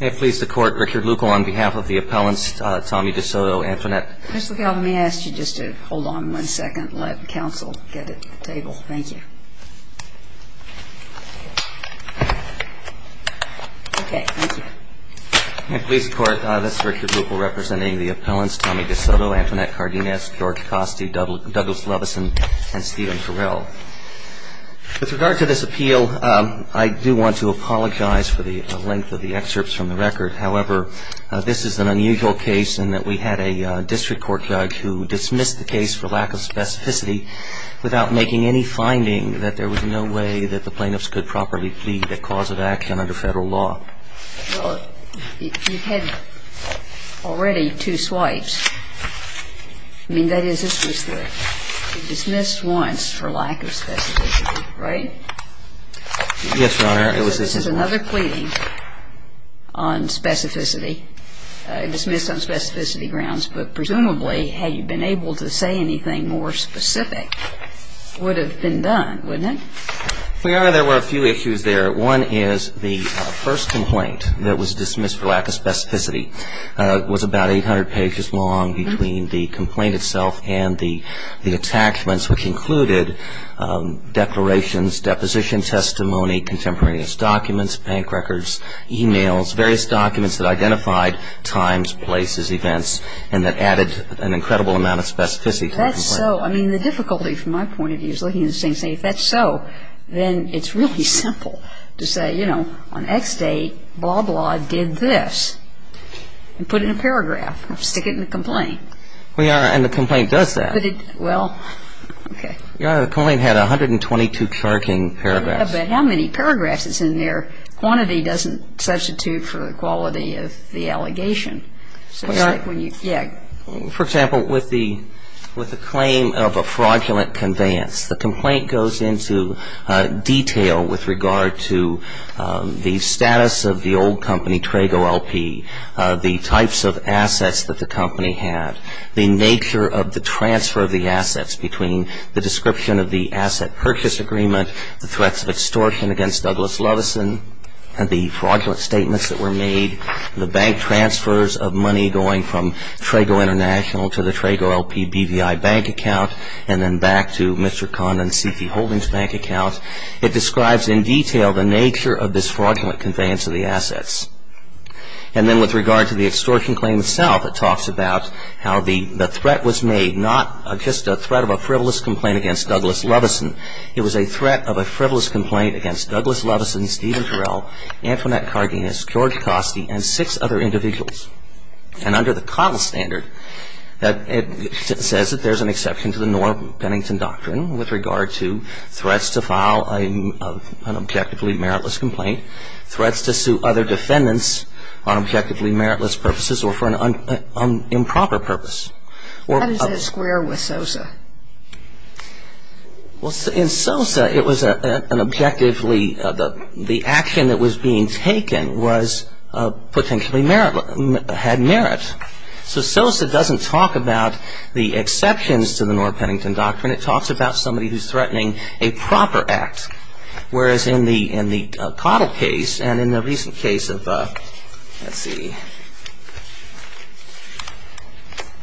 May it please the Court, Richard Luckel on behalf of the appellants Tommy Desoto, Antoinette Cardenas, George Costi, Douglas Levison, and Stephen Terrell. With regard to this appeal, I do want to apologize for the length of the excerpts from the record. However, this is an unusual case in that we had a district court judge who dismissed the case for lack of specificity without making any finding that there was no way that the plaintiffs could properly plead a cause of action under federal law. And so I would like to apologize for the length of the excerpts from the record. I do want to apologize for the length of the excerpts from the record. One is the first complaint that was dismissed for lack of specificity was about 800 pages long between the complaint itself and the attachments which included declarations, deposition testimony, contemporaneous documents, bank records, e-mails, various documents that identified times, places, events, and that added an incredible amount of specificity to the complaint. And so, I mean, the difficulty from my point of view is looking at the same thing. If that's so, then it's really simple to say, you know, on X date, blah, blah, did this, and put it in a paragraph, stick it in the complaint. Well, Your Honor, and the complaint does that. Well, okay. Your Honor, the complaint had 122 charting paragraphs. Yeah, but how many paragraphs is in there? Quantity doesn't substitute for the quality of the allegation. Well, Your Honor. Yeah. For example, with the claim of a fraudulent conveyance, the complaint goes into detail with regard to the status of the old company, Trago LP, the types of assets that the company had, the nature of the transfer of the assets between the description of the asset purchase agreement, the threats of extortion against Douglas Levison, and the fraudulent statements that were made, the bank transfers of money going from Trago LP to Trago LP. It goes from Trago International to the Trago LP BVI bank account, and then back to Mr. Condon C.T. Holdings bank account. It describes in detail the nature of this fraudulent conveyance of the assets. And then with regard to the extortion claim itself, it talks about how the threat was made, not just a threat of a frivolous complaint against Douglas Levison. It was a threat of a frivolous complaint against Douglas Levison, Stephen Jarrell, Antoinette Cardenas, George Costi, and six other individuals. And under the Cottle standard, it says that there's an exception to the Norm Bennington Doctrine with regard to threats to file an objectively meritless complaint, threats to sue other defendants on objectively meritless purposes, or for an improper purpose. What does that square with SOSA? Well, in SOSA, it was an objectively, the action that was being taken was potentially had merit. So SOSA doesn't talk about the exceptions to the Norm Bennington Doctrine. It talks about somebody who's threatening a proper act. Whereas in the Cottle case, and in the recent case of, let's see,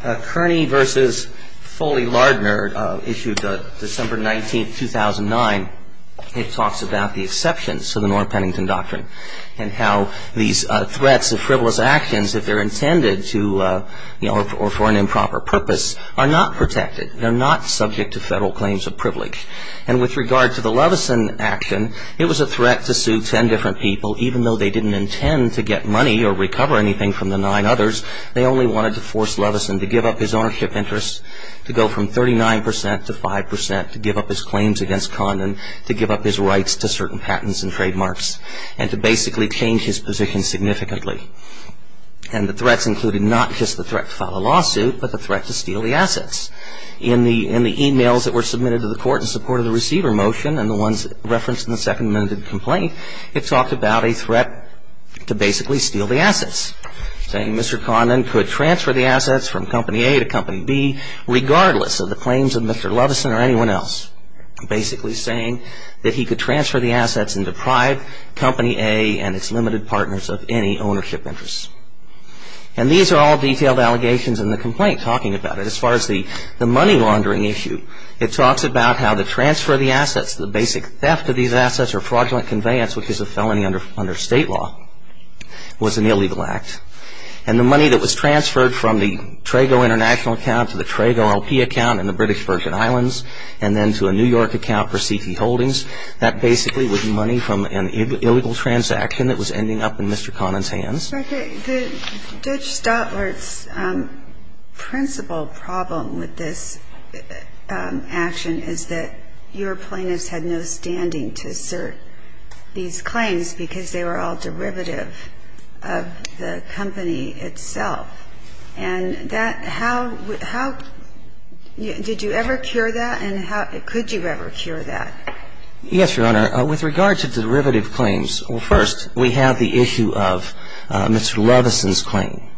Kearney versus Foley-Lardner, issued December 19, 2009, it talks about the exceptions to the Norm Bennington Doctrine. And how these threats of frivolous actions, if they're intended to, you know, or for an improper purpose, are not protected. They're not subject to federal claims of privilege. And with regard to the Levison action, it was a threat to sue ten different people, even though they didn't intend to get money or recover anything from the nine others. They only wanted to force Levison to give up his ownership interests, to go from 39% to 5%, to give up his claims against Condon, to give up his rights to certain patents and trademarks, and to basically change his position significantly. And the threats included not just the threat to file a lawsuit, but the threat to steal the assets. In the e-mails that were submitted to the Court in support of the receiver motion, and the ones referenced in the second amended complaint, it talked about a threat to basically steal the assets. Saying Mr. Condon could transfer the assets from Company A to Company B, regardless of the claims of Mr. Levison or anyone else. Basically saying that he could transfer the assets and deprive Company A and its limited partners of any ownership interests. And these are all detailed allegations in the complaint talking about it. As far as the money laundering issue, it talks about how to transfer the assets, the basic theft of these assets or fraudulent conveyance, which is a felony under state law, was an illegal act. And the money that was transferred from the Trago International account to the Trago LP account in the British Virgin Islands, and then to a New York account for CT Holdings, that basically was money from an illegal transaction that was ending up in Mr. Condon's hands. But the Dutch Stoutworth's principal problem with this action is that your plaintiffs had no standing to assert these claims because they were all derivative of the company itself. And that how – how – did you ever cure that and how – could you ever cure that? Yes, Your Honor. With regard to derivative claims, well, first, we have the issue of Mr. Levison's claim.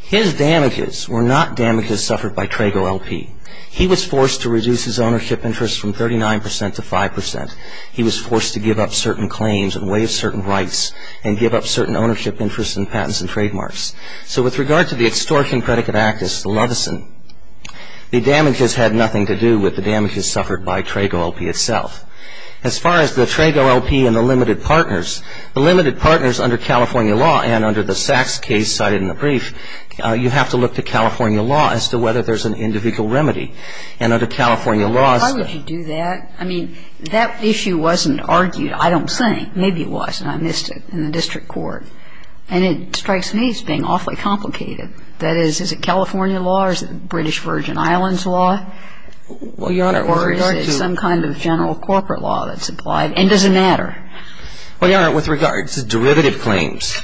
His damages were not damages suffered by Trago LP. He was forced to reduce his ownership interests from 39% to 5%. He was forced to give up certain claims and waive certain rights and give up certain ownership interests and patents and trademarks. So with regard to the extortion predicate act, it's Levison. The damages had nothing to do with the damages suffered by Trago LP itself. As far as the Trago LP and the limited partners, the limited partners under California law and under the Sachs case cited in the brief, you have to look to California law as to whether there's an individual remedy. And under California law – Why would you do that? I mean, that issue wasn't argued, I don't think. Maybe it was, and I missed it, in the district court. And it strikes me as being awfully complicated. That is, is it California law or is it British Virgin Islands law? Well, Your Honor, with regard to – Or is it some kind of general corporate law that's applied? And does it matter? Well, Your Honor, with regard to derivative claims,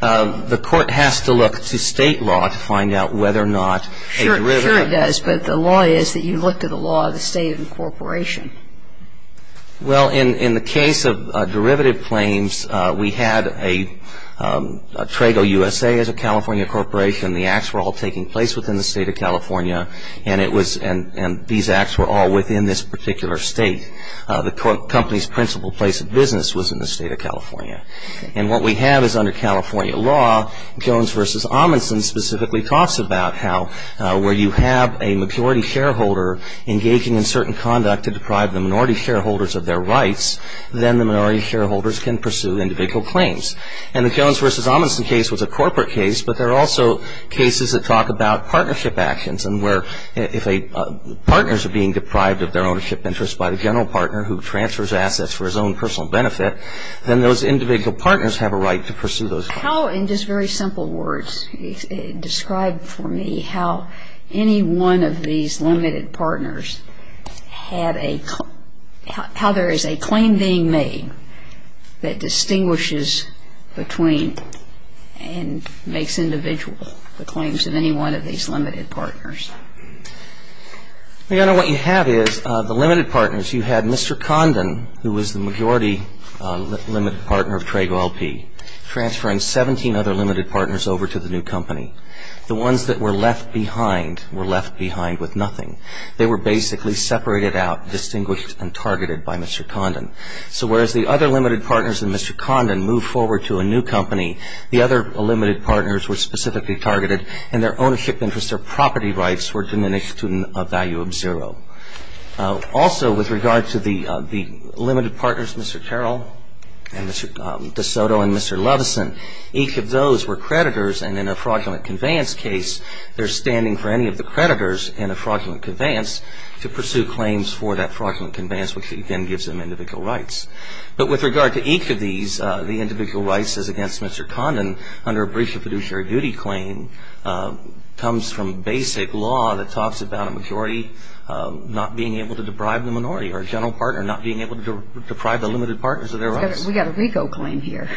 the court has to look to state law to find out whether or not a derivative – Sure, sure it does. But the law is that you look to the law of the state incorporation. Well, in the case of derivative claims, we had a Trago USA as a California corporation. The acts were all taking place within the state of California. And it was – and these acts were all within this particular state. The company's principal place of business was in the state of California. And what we have is under California law, Jones v. Amundson specifically talks about how, where you have a majority shareholder engaging in certain conduct to deprive the minority shareholders of their rights, then the minority shareholders can pursue individual claims. And the Jones v. Amundson case was a corporate case, but there are also cases that talk about partnership actions and where if a – partners are being deprived of their ownership interest by the general partner who transfers assets for his own personal benefit, then those individual partners have a right to pursue those claims. How, in just very simple words, describe for me how any one of these limited partners had a – how there is a claim being made that distinguishes between and makes individual the claims of any one of these limited partners? Your Honor, what you have is the limited partners. You had Mr. Condon, who was the majority limited partner of Trago LP, transferring 17 other limited partners over to the new company. The ones that were left behind were left behind with nothing. They were basically separated out, distinguished, and targeted by Mr. Condon. So whereas the other limited partners and Mr. Condon moved forward to a new company, the other limited partners were specifically targeted, and their ownership interests, their property rights were diminished to a value of zero. Also, with regard to the limited partners, Mr. Terrell and Mr. De Soto and Mr. Levison, each of those were creditors, and in a fraudulent conveyance case, they're standing for any of the creditors in a fraudulent conveyance to pursue claims for that fraudulent conveyance, which again gives them individual rights. But with regard to each of these, the individual rights as against Mr. Condon under a breach of fiduciary duty claim comes from basic law that talks about a majority not being able to deprive the minority or a general partner not being able to deprive the limited partners of their rights. We've got a RICO claim here.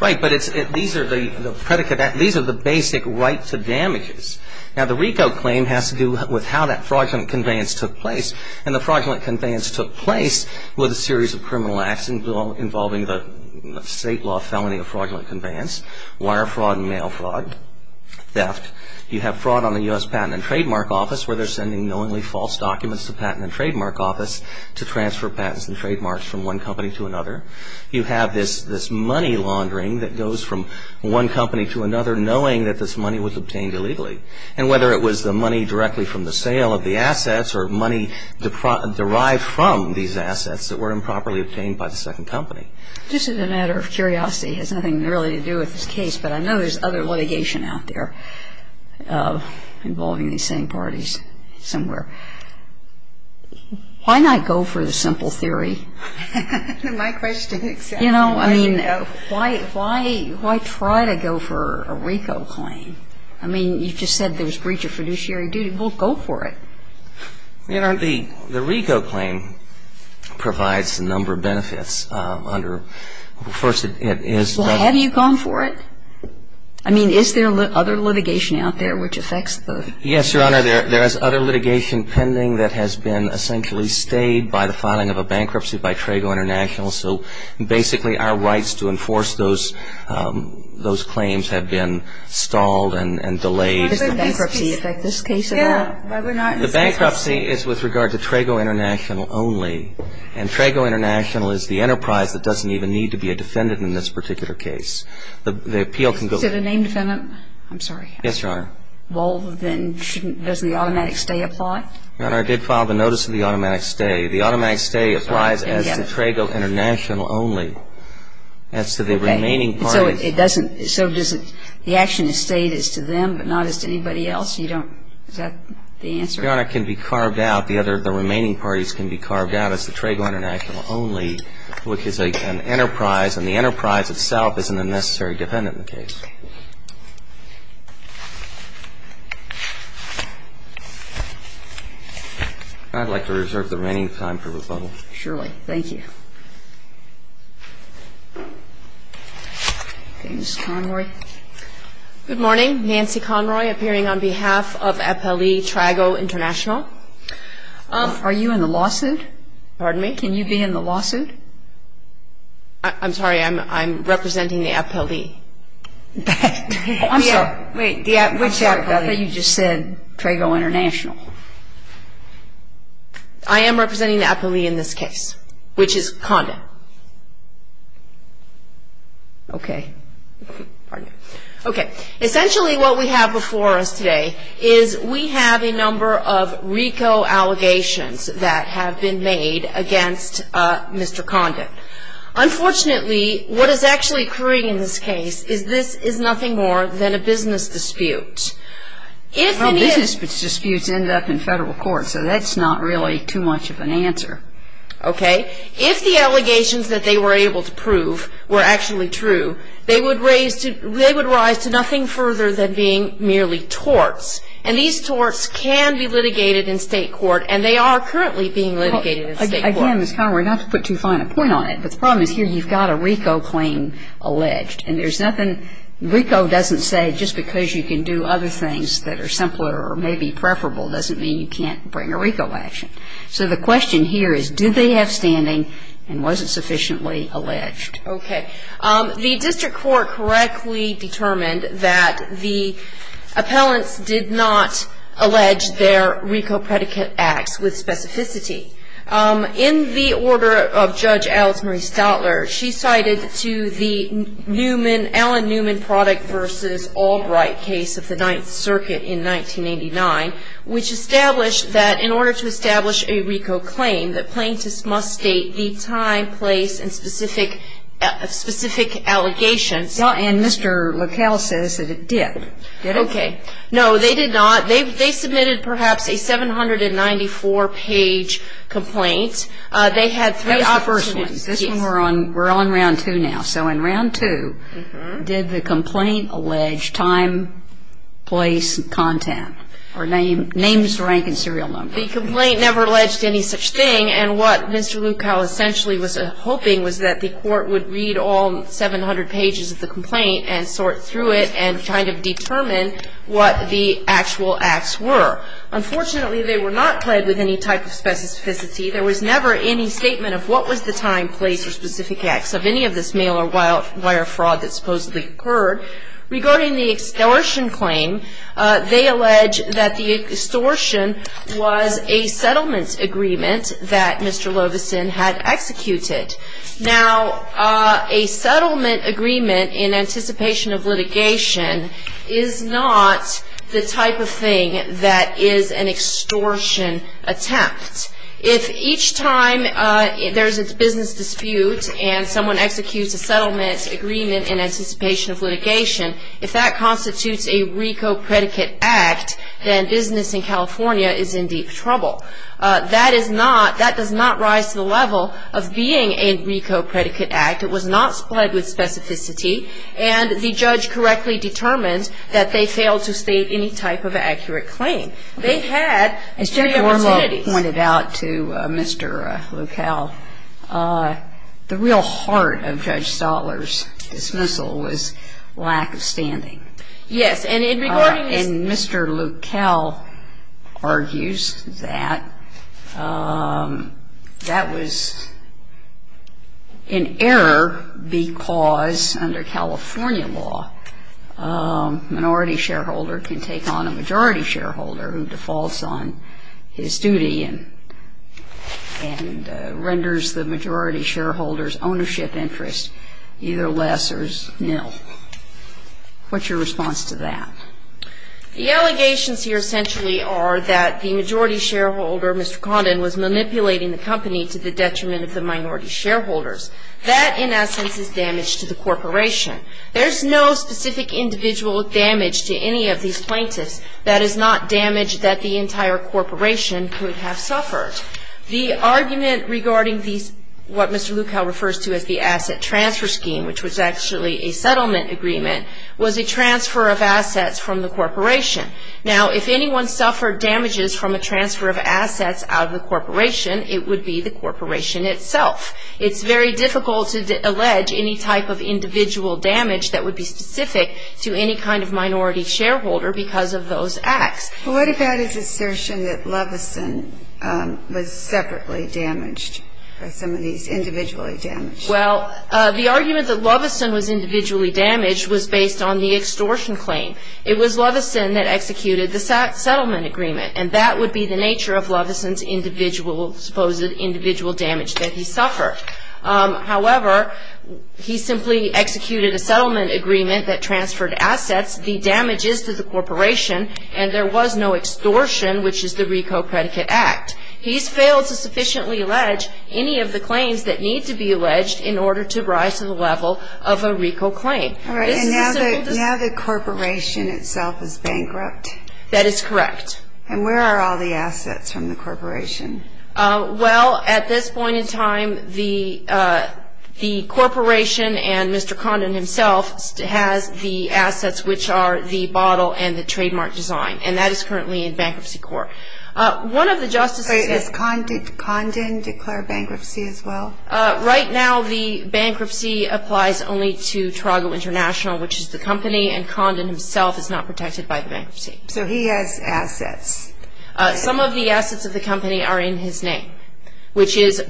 Right, but these are the basic right to damages. Now, the RICO claim has to do with how that fraudulent conveyance took place, and the fraudulent conveyance took place with a series of criminal acts involving the state law felony of fraudulent conveyance, wire fraud and mail fraud, theft. You have fraud on the U.S. Patent and Trademark Office, where they're sending knowingly false documents to the Patent and Trademark Office to transfer patents and trademarks from one company to another. You have this money laundering that goes from one company to another, knowing that this money was obtained illegally, and whether it was the money directly from the sale of the assets or money derived from these assets that were improperly obtained by the second company. Just as a matter of curiosity, it has nothing really to do with this case, but I know there's other litigation out there. involving these same parties somewhere. Why not go for the simple theory? My question exactly. You know, I mean, why try to go for a RICO claim? I mean, you just said there was breach of fiduciary duty. Well, go for it. You know, the RICO claim provides a number of benefits. First, it is... Well, have you gone for it? I mean, is there other litigation out there which affects the... Yes, Your Honor, there is other litigation pending that has been essentially stayed by the filing of a bankruptcy by Trago International, so basically our rights to enforce those claims have been stalled and delayed. Does the bankruptcy affect this case at all? Yeah, but we're not... The bankruptcy is with regard to Trago International only, and Trago International is the enterprise that doesn't even need to be a defendant in this particular case. The appeal can go... Is it a named defendant? I'm sorry. Yes, Your Honor. Well, then shouldn't... Doesn't the automatic stay apply? Your Honor, I did file the notice of the automatic stay. The automatic stay applies as to Trago International only. As to the remaining parties... So it doesn't... So does it... The action is stayed as to them, but not as to anybody else? You don't... Is that the answer? Your Honor, it can be carved out. The other... The remaining parties can be carved out as to Trago International only, which is an enterprise, and the enterprise itself isn't a necessary defendant in the case. Okay. I'd like to reserve the remaining time for rebuttal. Surely. Thank you. Ms. Conroy. Good morning. Nancy Conroy, appearing on behalf of FLE Trago International. Are you in the lawsuit? Pardon me? Can you be in the lawsuit? I'm sorry. I'm representing the FLE. I'm sorry. Wait. Which FLE? I thought you just said Trago International. I am representing the FLE in this case, which is Condon. Okay. Okay. Essentially what we have before us today is we have a number of RICO allegations that have been made against Mr. Condon. Unfortunately, what is actually occurring in this case is this is nothing more than a business dispute. Well, business disputes end up in federal court, so that's not really too much of an answer. Okay. If the allegations that they were able to prove were actually true, they would rise to nothing further than being merely torts, and these torts can be litigated in state court, and they are currently being litigated in state court. Again, Ms. Conroy, not to put too fine a point on it, but the problem is here you've got a RICO claim alleged, and there's nothing RICO doesn't say just because you can do other things that are simpler or maybe preferable doesn't mean you can't bring a RICO action. So the question here is did they have standing and was it sufficiently alleged? Okay. The district court correctly determined that the appellants did not allege their RICO predicate acts with specificity. In the order of Judge Alice Marie Stoutler, she cited to the Newman, Allen Newman Product v. Albright case of the Ninth Circuit in 1989, which established that in order to establish a RICO claim, that plaintiffs must state the time, place, and specific allegations. And Mr. LaCalle says that it did. Did it? Okay. No, they did not. They submitted perhaps a 794-page complaint. They had three opportunities. That was the first one. This one we're on round two now. So in round two, did the complaint allege time, place, content, or names, rank, and serial number? The complaint never alleged any such thing, and what Mr. LaCalle essentially was hoping was that the court would read all 700 pages of the complaint and sort through it and kind of determine what the actual acts were. Unfortunately, they were not pled with any type of specificity. There was never any statement of what was the time, place, or specific acts of any of this mail-or-wire fraud that supposedly occurred. Regarding the extortion claim, they allege that the extortion was a settlement agreement that Mr. Loveson had executed. Now, a settlement agreement in anticipation of litigation is not the type of thing that is an extortion attempt. If each time there's a business dispute and someone executes a settlement agreement in anticipation of litigation, if that constitutes a RICO predicate act, then business in California is in deep trouble. That does not rise to the level of being a RICO predicate act. It was not pled with specificity, and the judge correctly determined that they failed to state any type of accurate claim. They had three opportunities. As Judge Wormo pointed out to Mr. LaCalle, the real heart of Judge Stotler's dismissal was lack of standing. Yes. And Mr. LaCalle argues that that was an error because under California law, a minority shareholder can take on a majority shareholder who defaults on his duty and renders the majority shareholder's ownership interest either less or nil. What's your response to that? The allegations here essentially are that the majority shareholder, Mr. Condon, was manipulating the company to the detriment of the minority shareholders. That, in essence, is damage to the corporation. There's no specific individual damage to any of these plaintiffs. That is not damage that the entire corporation could have suffered. The argument regarding what Mr. LaCalle refers to as the asset transfer scheme, which was actually a settlement agreement, was a transfer of assets from the corporation. Now, if anyone suffered damages from a transfer of assets out of the corporation, it would be the corporation itself. It's very difficult to allege any type of individual damage that would be specific to any kind of minority shareholder because of those acts. Well, what about his assertion that Loveson was separately damaged or some of these individually damaged? Well, the argument that Loveson was individually damaged was based on the extortion claim. It was Loveson that executed the settlement agreement, and that would be the nature of Loveson's individual, supposed individual damage that he suffered. However, he simply executed a settlement agreement that transferred assets. The damage is to the corporation, and there was no extortion, which is the RICO Predicate Act. He's failed to sufficiently allege any of the claims that need to be alleged in order to rise to the level of a RICO claim. All right, and now the corporation itself is bankrupt. That is correct. And where are all the assets from the corporation? Well, at this point in time, the corporation and Mr. Condon himself has the assets, which are the bottle and the trademark design, and that is currently in Bankruptcy Court. One of the justices said – Wait, does Condon declare bankruptcy as well? Right now the bankruptcy applies only to Toronto International, which is the company, and Condon himself is not protected by the bankruptcy. So he has assets. Some of the assets of the company are in his name, which is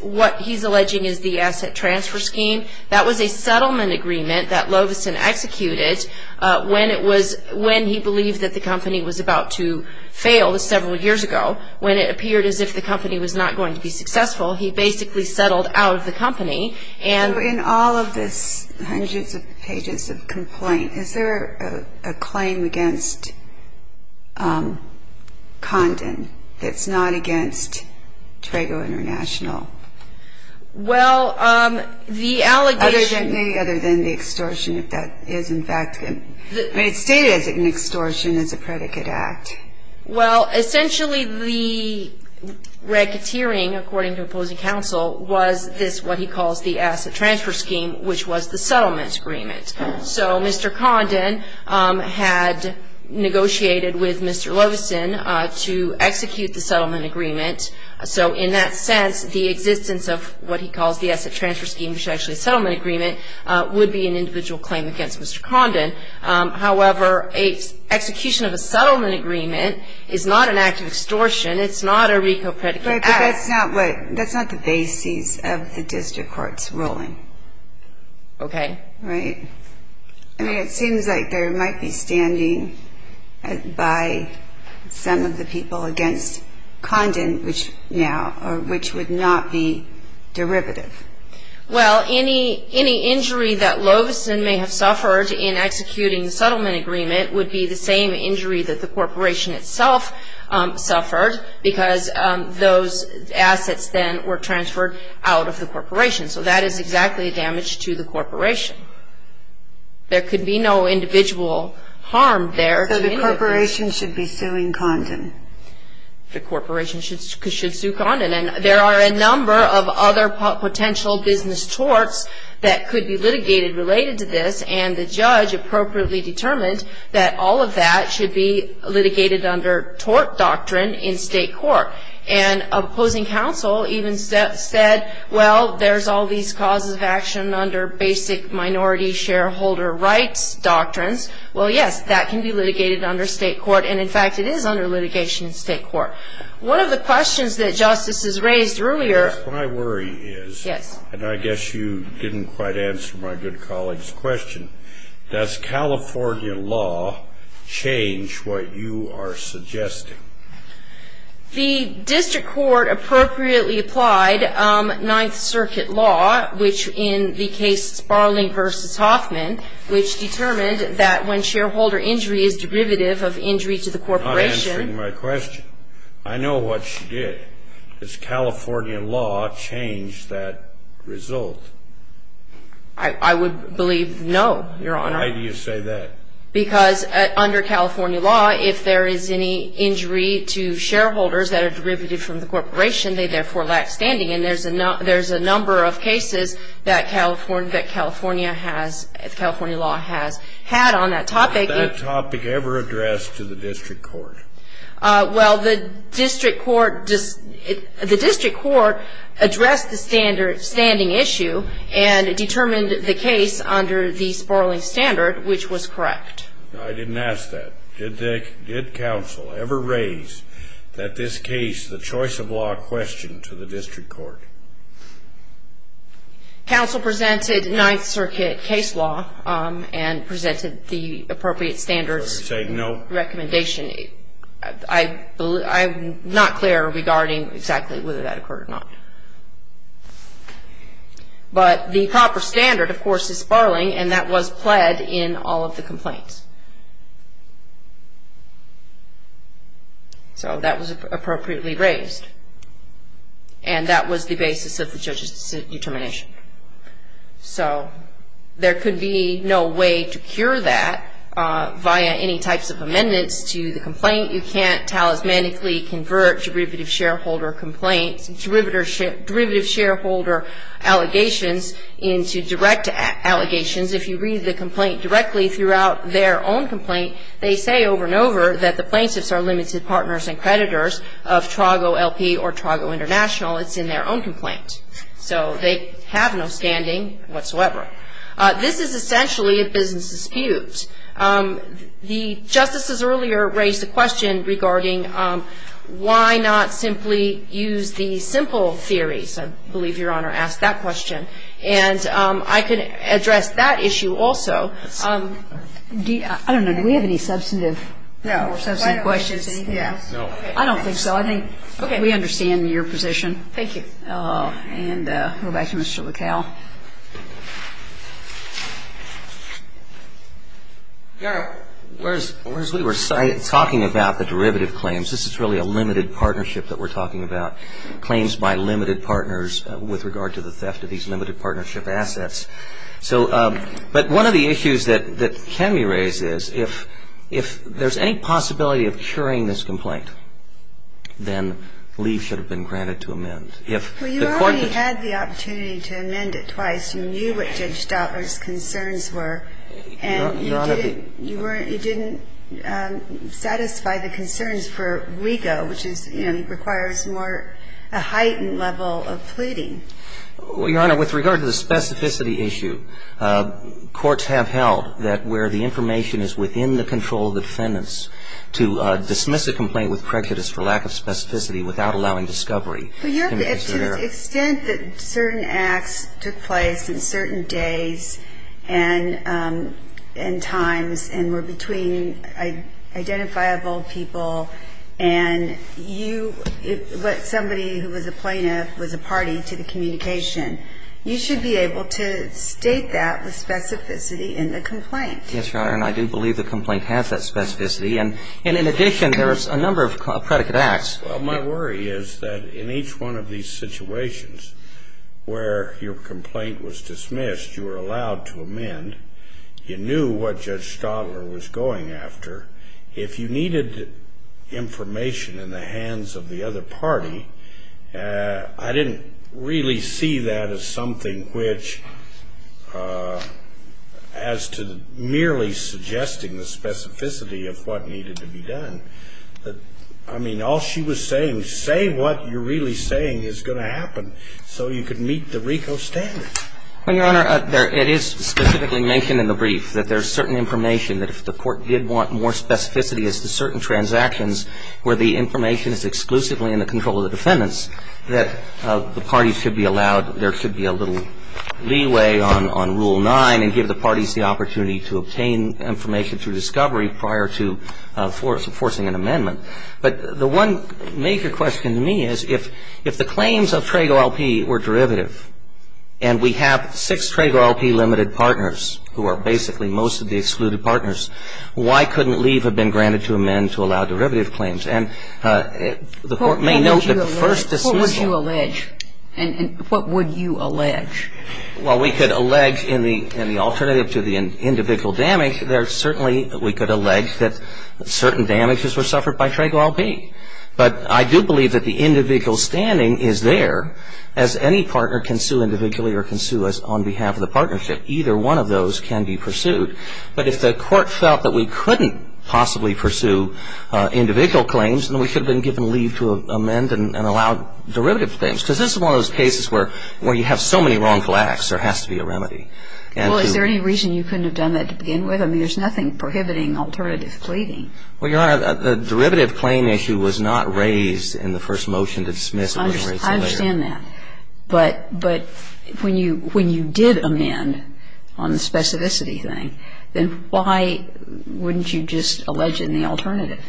what he's alleging is the asset transfer scheme. That was a settlement agreement that Loveson executed when he believed that the company was about to fail several years ago. When it appeared as if the company was not going to be successful, he basically settled out of the company. So in all of this, hundreds of pages of complaint, Is there a claim against Condon that's not against Trago International? Well, the allegation – Other than the extortion, if that is in fact – I mean, it's stated as an extortion, as a predicate act. Well, essentially the racketeering, according to opposing counsel, was this what he calls the asset transfer scheme, which was the settlement agreement. So Mr. Condon had negotiated with Mr. Loveson to execute the settlement agreement. So in that sense, the existence of what he calls the asset transfer scheme, which is actually a settlement agreement, would be an individual claim against Mr. Condon. However, execution of a settlement agreement is not an act of extortion. It's not a RICO predicate act. But that's not the basis of the district court's ruling. Okay. Right. I mean, it seems like there might be standing by some of the people against Condon now, which would not be derivative. Well, any injury that Loveson may have suffered in executing the settlement agreement would be the same injury that the corporation itself suffered, because those assets then were transferred out of the corporation. So that is exactly damage to the corporation. There could be no individual harm there. So the corporation should be suing Condon. The corporation should sue Condon. And there are a number of other potential business torts that could be litigated related to this, and the judge appropriately determined that all of that should be litigated under tort doctrine in state court. And opposing counsel even said, well, there's all these causes of action under basic minority shareholder rights doctrines. Well, yes, that can be litigated under state court. And, in fact, it is under litigation in state court. One of the questions that justices raised earlier. My worry is, and I guess you didn't quite answer my good colleague's question, does California law change what you are suggesting? The district court appropriately applied Ninth Circuit law, which in the case Sparling v. Hoffman, which determined that when shareholder injury is derivative of injury to the corporation. You're not answering my question. I know what she did. Does Californian law change that result? I would believe no, Your Honor. Why do you say that? Because under California law, if there is any injury to shareholders that are derivative from the corporation, they therefore lack standing. And there's a number of cases that California law has had on that topic. Was that topic ever addressed to the district court? Well, the district court addressed the standing issue and determined the case under the Sparling standard, which was correct. I didn't ask that. Did counsel ever raise that this case, the choice of law, questioned to the district court? Counsel presented Ninth Circuit case law and presented the appropriate standards. Are you saying no? Recommendation. I'm not clear regarding exactly whether that occurred or not. But the proper standard, of course, is Sparling, and that was pled in all of the complaints. So that was appropriately raised, and that was the basis of the judge's determination. So there could be no way to cure that via any types of amendments to the complaint. You can't talismanically convert derivative shareholder complaints, derivative shareholder allegations into direct allegations. If you read the complaint directly throughout their own complaint, they say over and over that the plaintiffs are limited partners and creditors of Trago LP or Trago International. It's in their own complaint. So they have no standing whatsoever. This is essentially a business dispute. The justices earlier raised a question regarding why not simply use the simple theories. I believe Your Honor asked that question. And I could address that issue also. I don't know. Do we have any substantive questions? No. I don't think so. I think we understand your position. Thank you. And we'll go back to Mr. McHale. Your Honor, whereas we were talking about the derivative claims, this is really a limited partnership that we're talking about, claims by limited partners with regard to the theft of these limited partnership assets. But one of the issues that can be raised is if there's any possibility of curing this complaint, then leave should have been granted to amend. Well, you already had the opportunity to amend it twice. You knew what Judge Stoutler's concerns were. And you didn't satisfy the concerns for Rigo, which is, you know, requires more a heightened level of pleading. Well, Your Honor, with regard to the specificity issue, courts have held that where the information is within the control of the defendants to dismiss a complaint with prejudice for lack of specificity without allowing discovery. To the extent that certain acts took place in certain days and times and were between identifiable people and you, but somebody who was a plaintiff was a party to the communication, you should be able to state that with specificity in the complaint. Yes, Your Honor. And I do believe the complaint has that specificity. And in addition, there's a number of predicate acts. Well, my worry is that in each one of these situations where your complaint was dismissed, you were allowed to amend. You knew what Judge Stoutler was going after. If you needed information in the hands of the other party, I didn't really see that as something which as to merely suggesting the specificity of what needed to be done. I mean, all she was saying, say what you're really saying is going to happen so you can meet the Rigo standard. Well, Your Honor, it is specifically mentioned in the brief that there's certain information that if the court did want more specificity to certain transactions where the information is exclusively in the control of the defendants, that the parties should be allowed, there should be a little leeway on Rule 9 and give the parties the opportunity to obtain information through discovery prior to forcing an amendment. But the one major question to me is if the claims of Trago LP were derivative and we have six Trago LP limited partners who are basically most of the excluded partners, why couldn't leave have been granted to amend to allow derivative claims? And the court may note that the first dismissal What would you allege? And what would you allege? Well, we could allege in the alternative to the individual damage, there certainly we could allege that certain damages were suffered by Trago LP. But I do believe that the individual standing is there as any partner can sue individually or can sue us on behalf of the partnership. Either one of those can be pursued. But if the court felt that we couldn't possibly pursue individual claims, then we should have been given leave to amend and allow derivative claims. Because this is one of those cases where you have so many wrongful acts, there has to be a remedy. Well, is there any reason you couldn't have done that to begin with? I mean, there's nothing prohibiting alternative pleading. Well, Your Honor, the derivative claim issue was not raised in the first motion to dismiss. I understand that. But when you did amend on the specificity thing, then why wouldn't you just allege it in the alternative?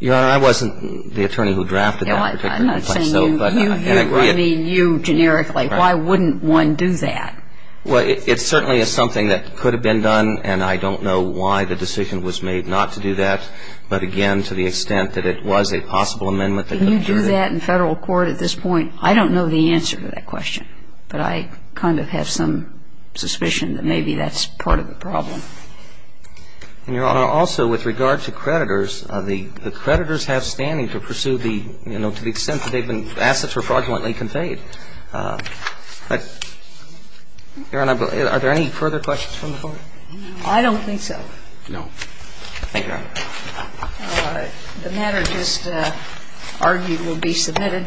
Your Honor, I wasn't the attorney who drafted that particular complaint. I'm not saying you, I mean you generically. Why wouldn't one do that? Well, it certainly is something that could have been done, and I don't know why the decision was made not to do that. But again, to the extent that it was a possible amendment that could have been adjourned. I don't know the answer to that question. But I kind of have some suspicion that maybe that's part of the problem. And, Your Honor, also with regard to creditors, the creditors have standing to pursue the, you know, to the extent that they've been assets were fraudulently conveyed. But, Your Honor, are there any further questions from the Court? I don't think so. No. Thank you, Your Honor. The matter just argued will be submitted.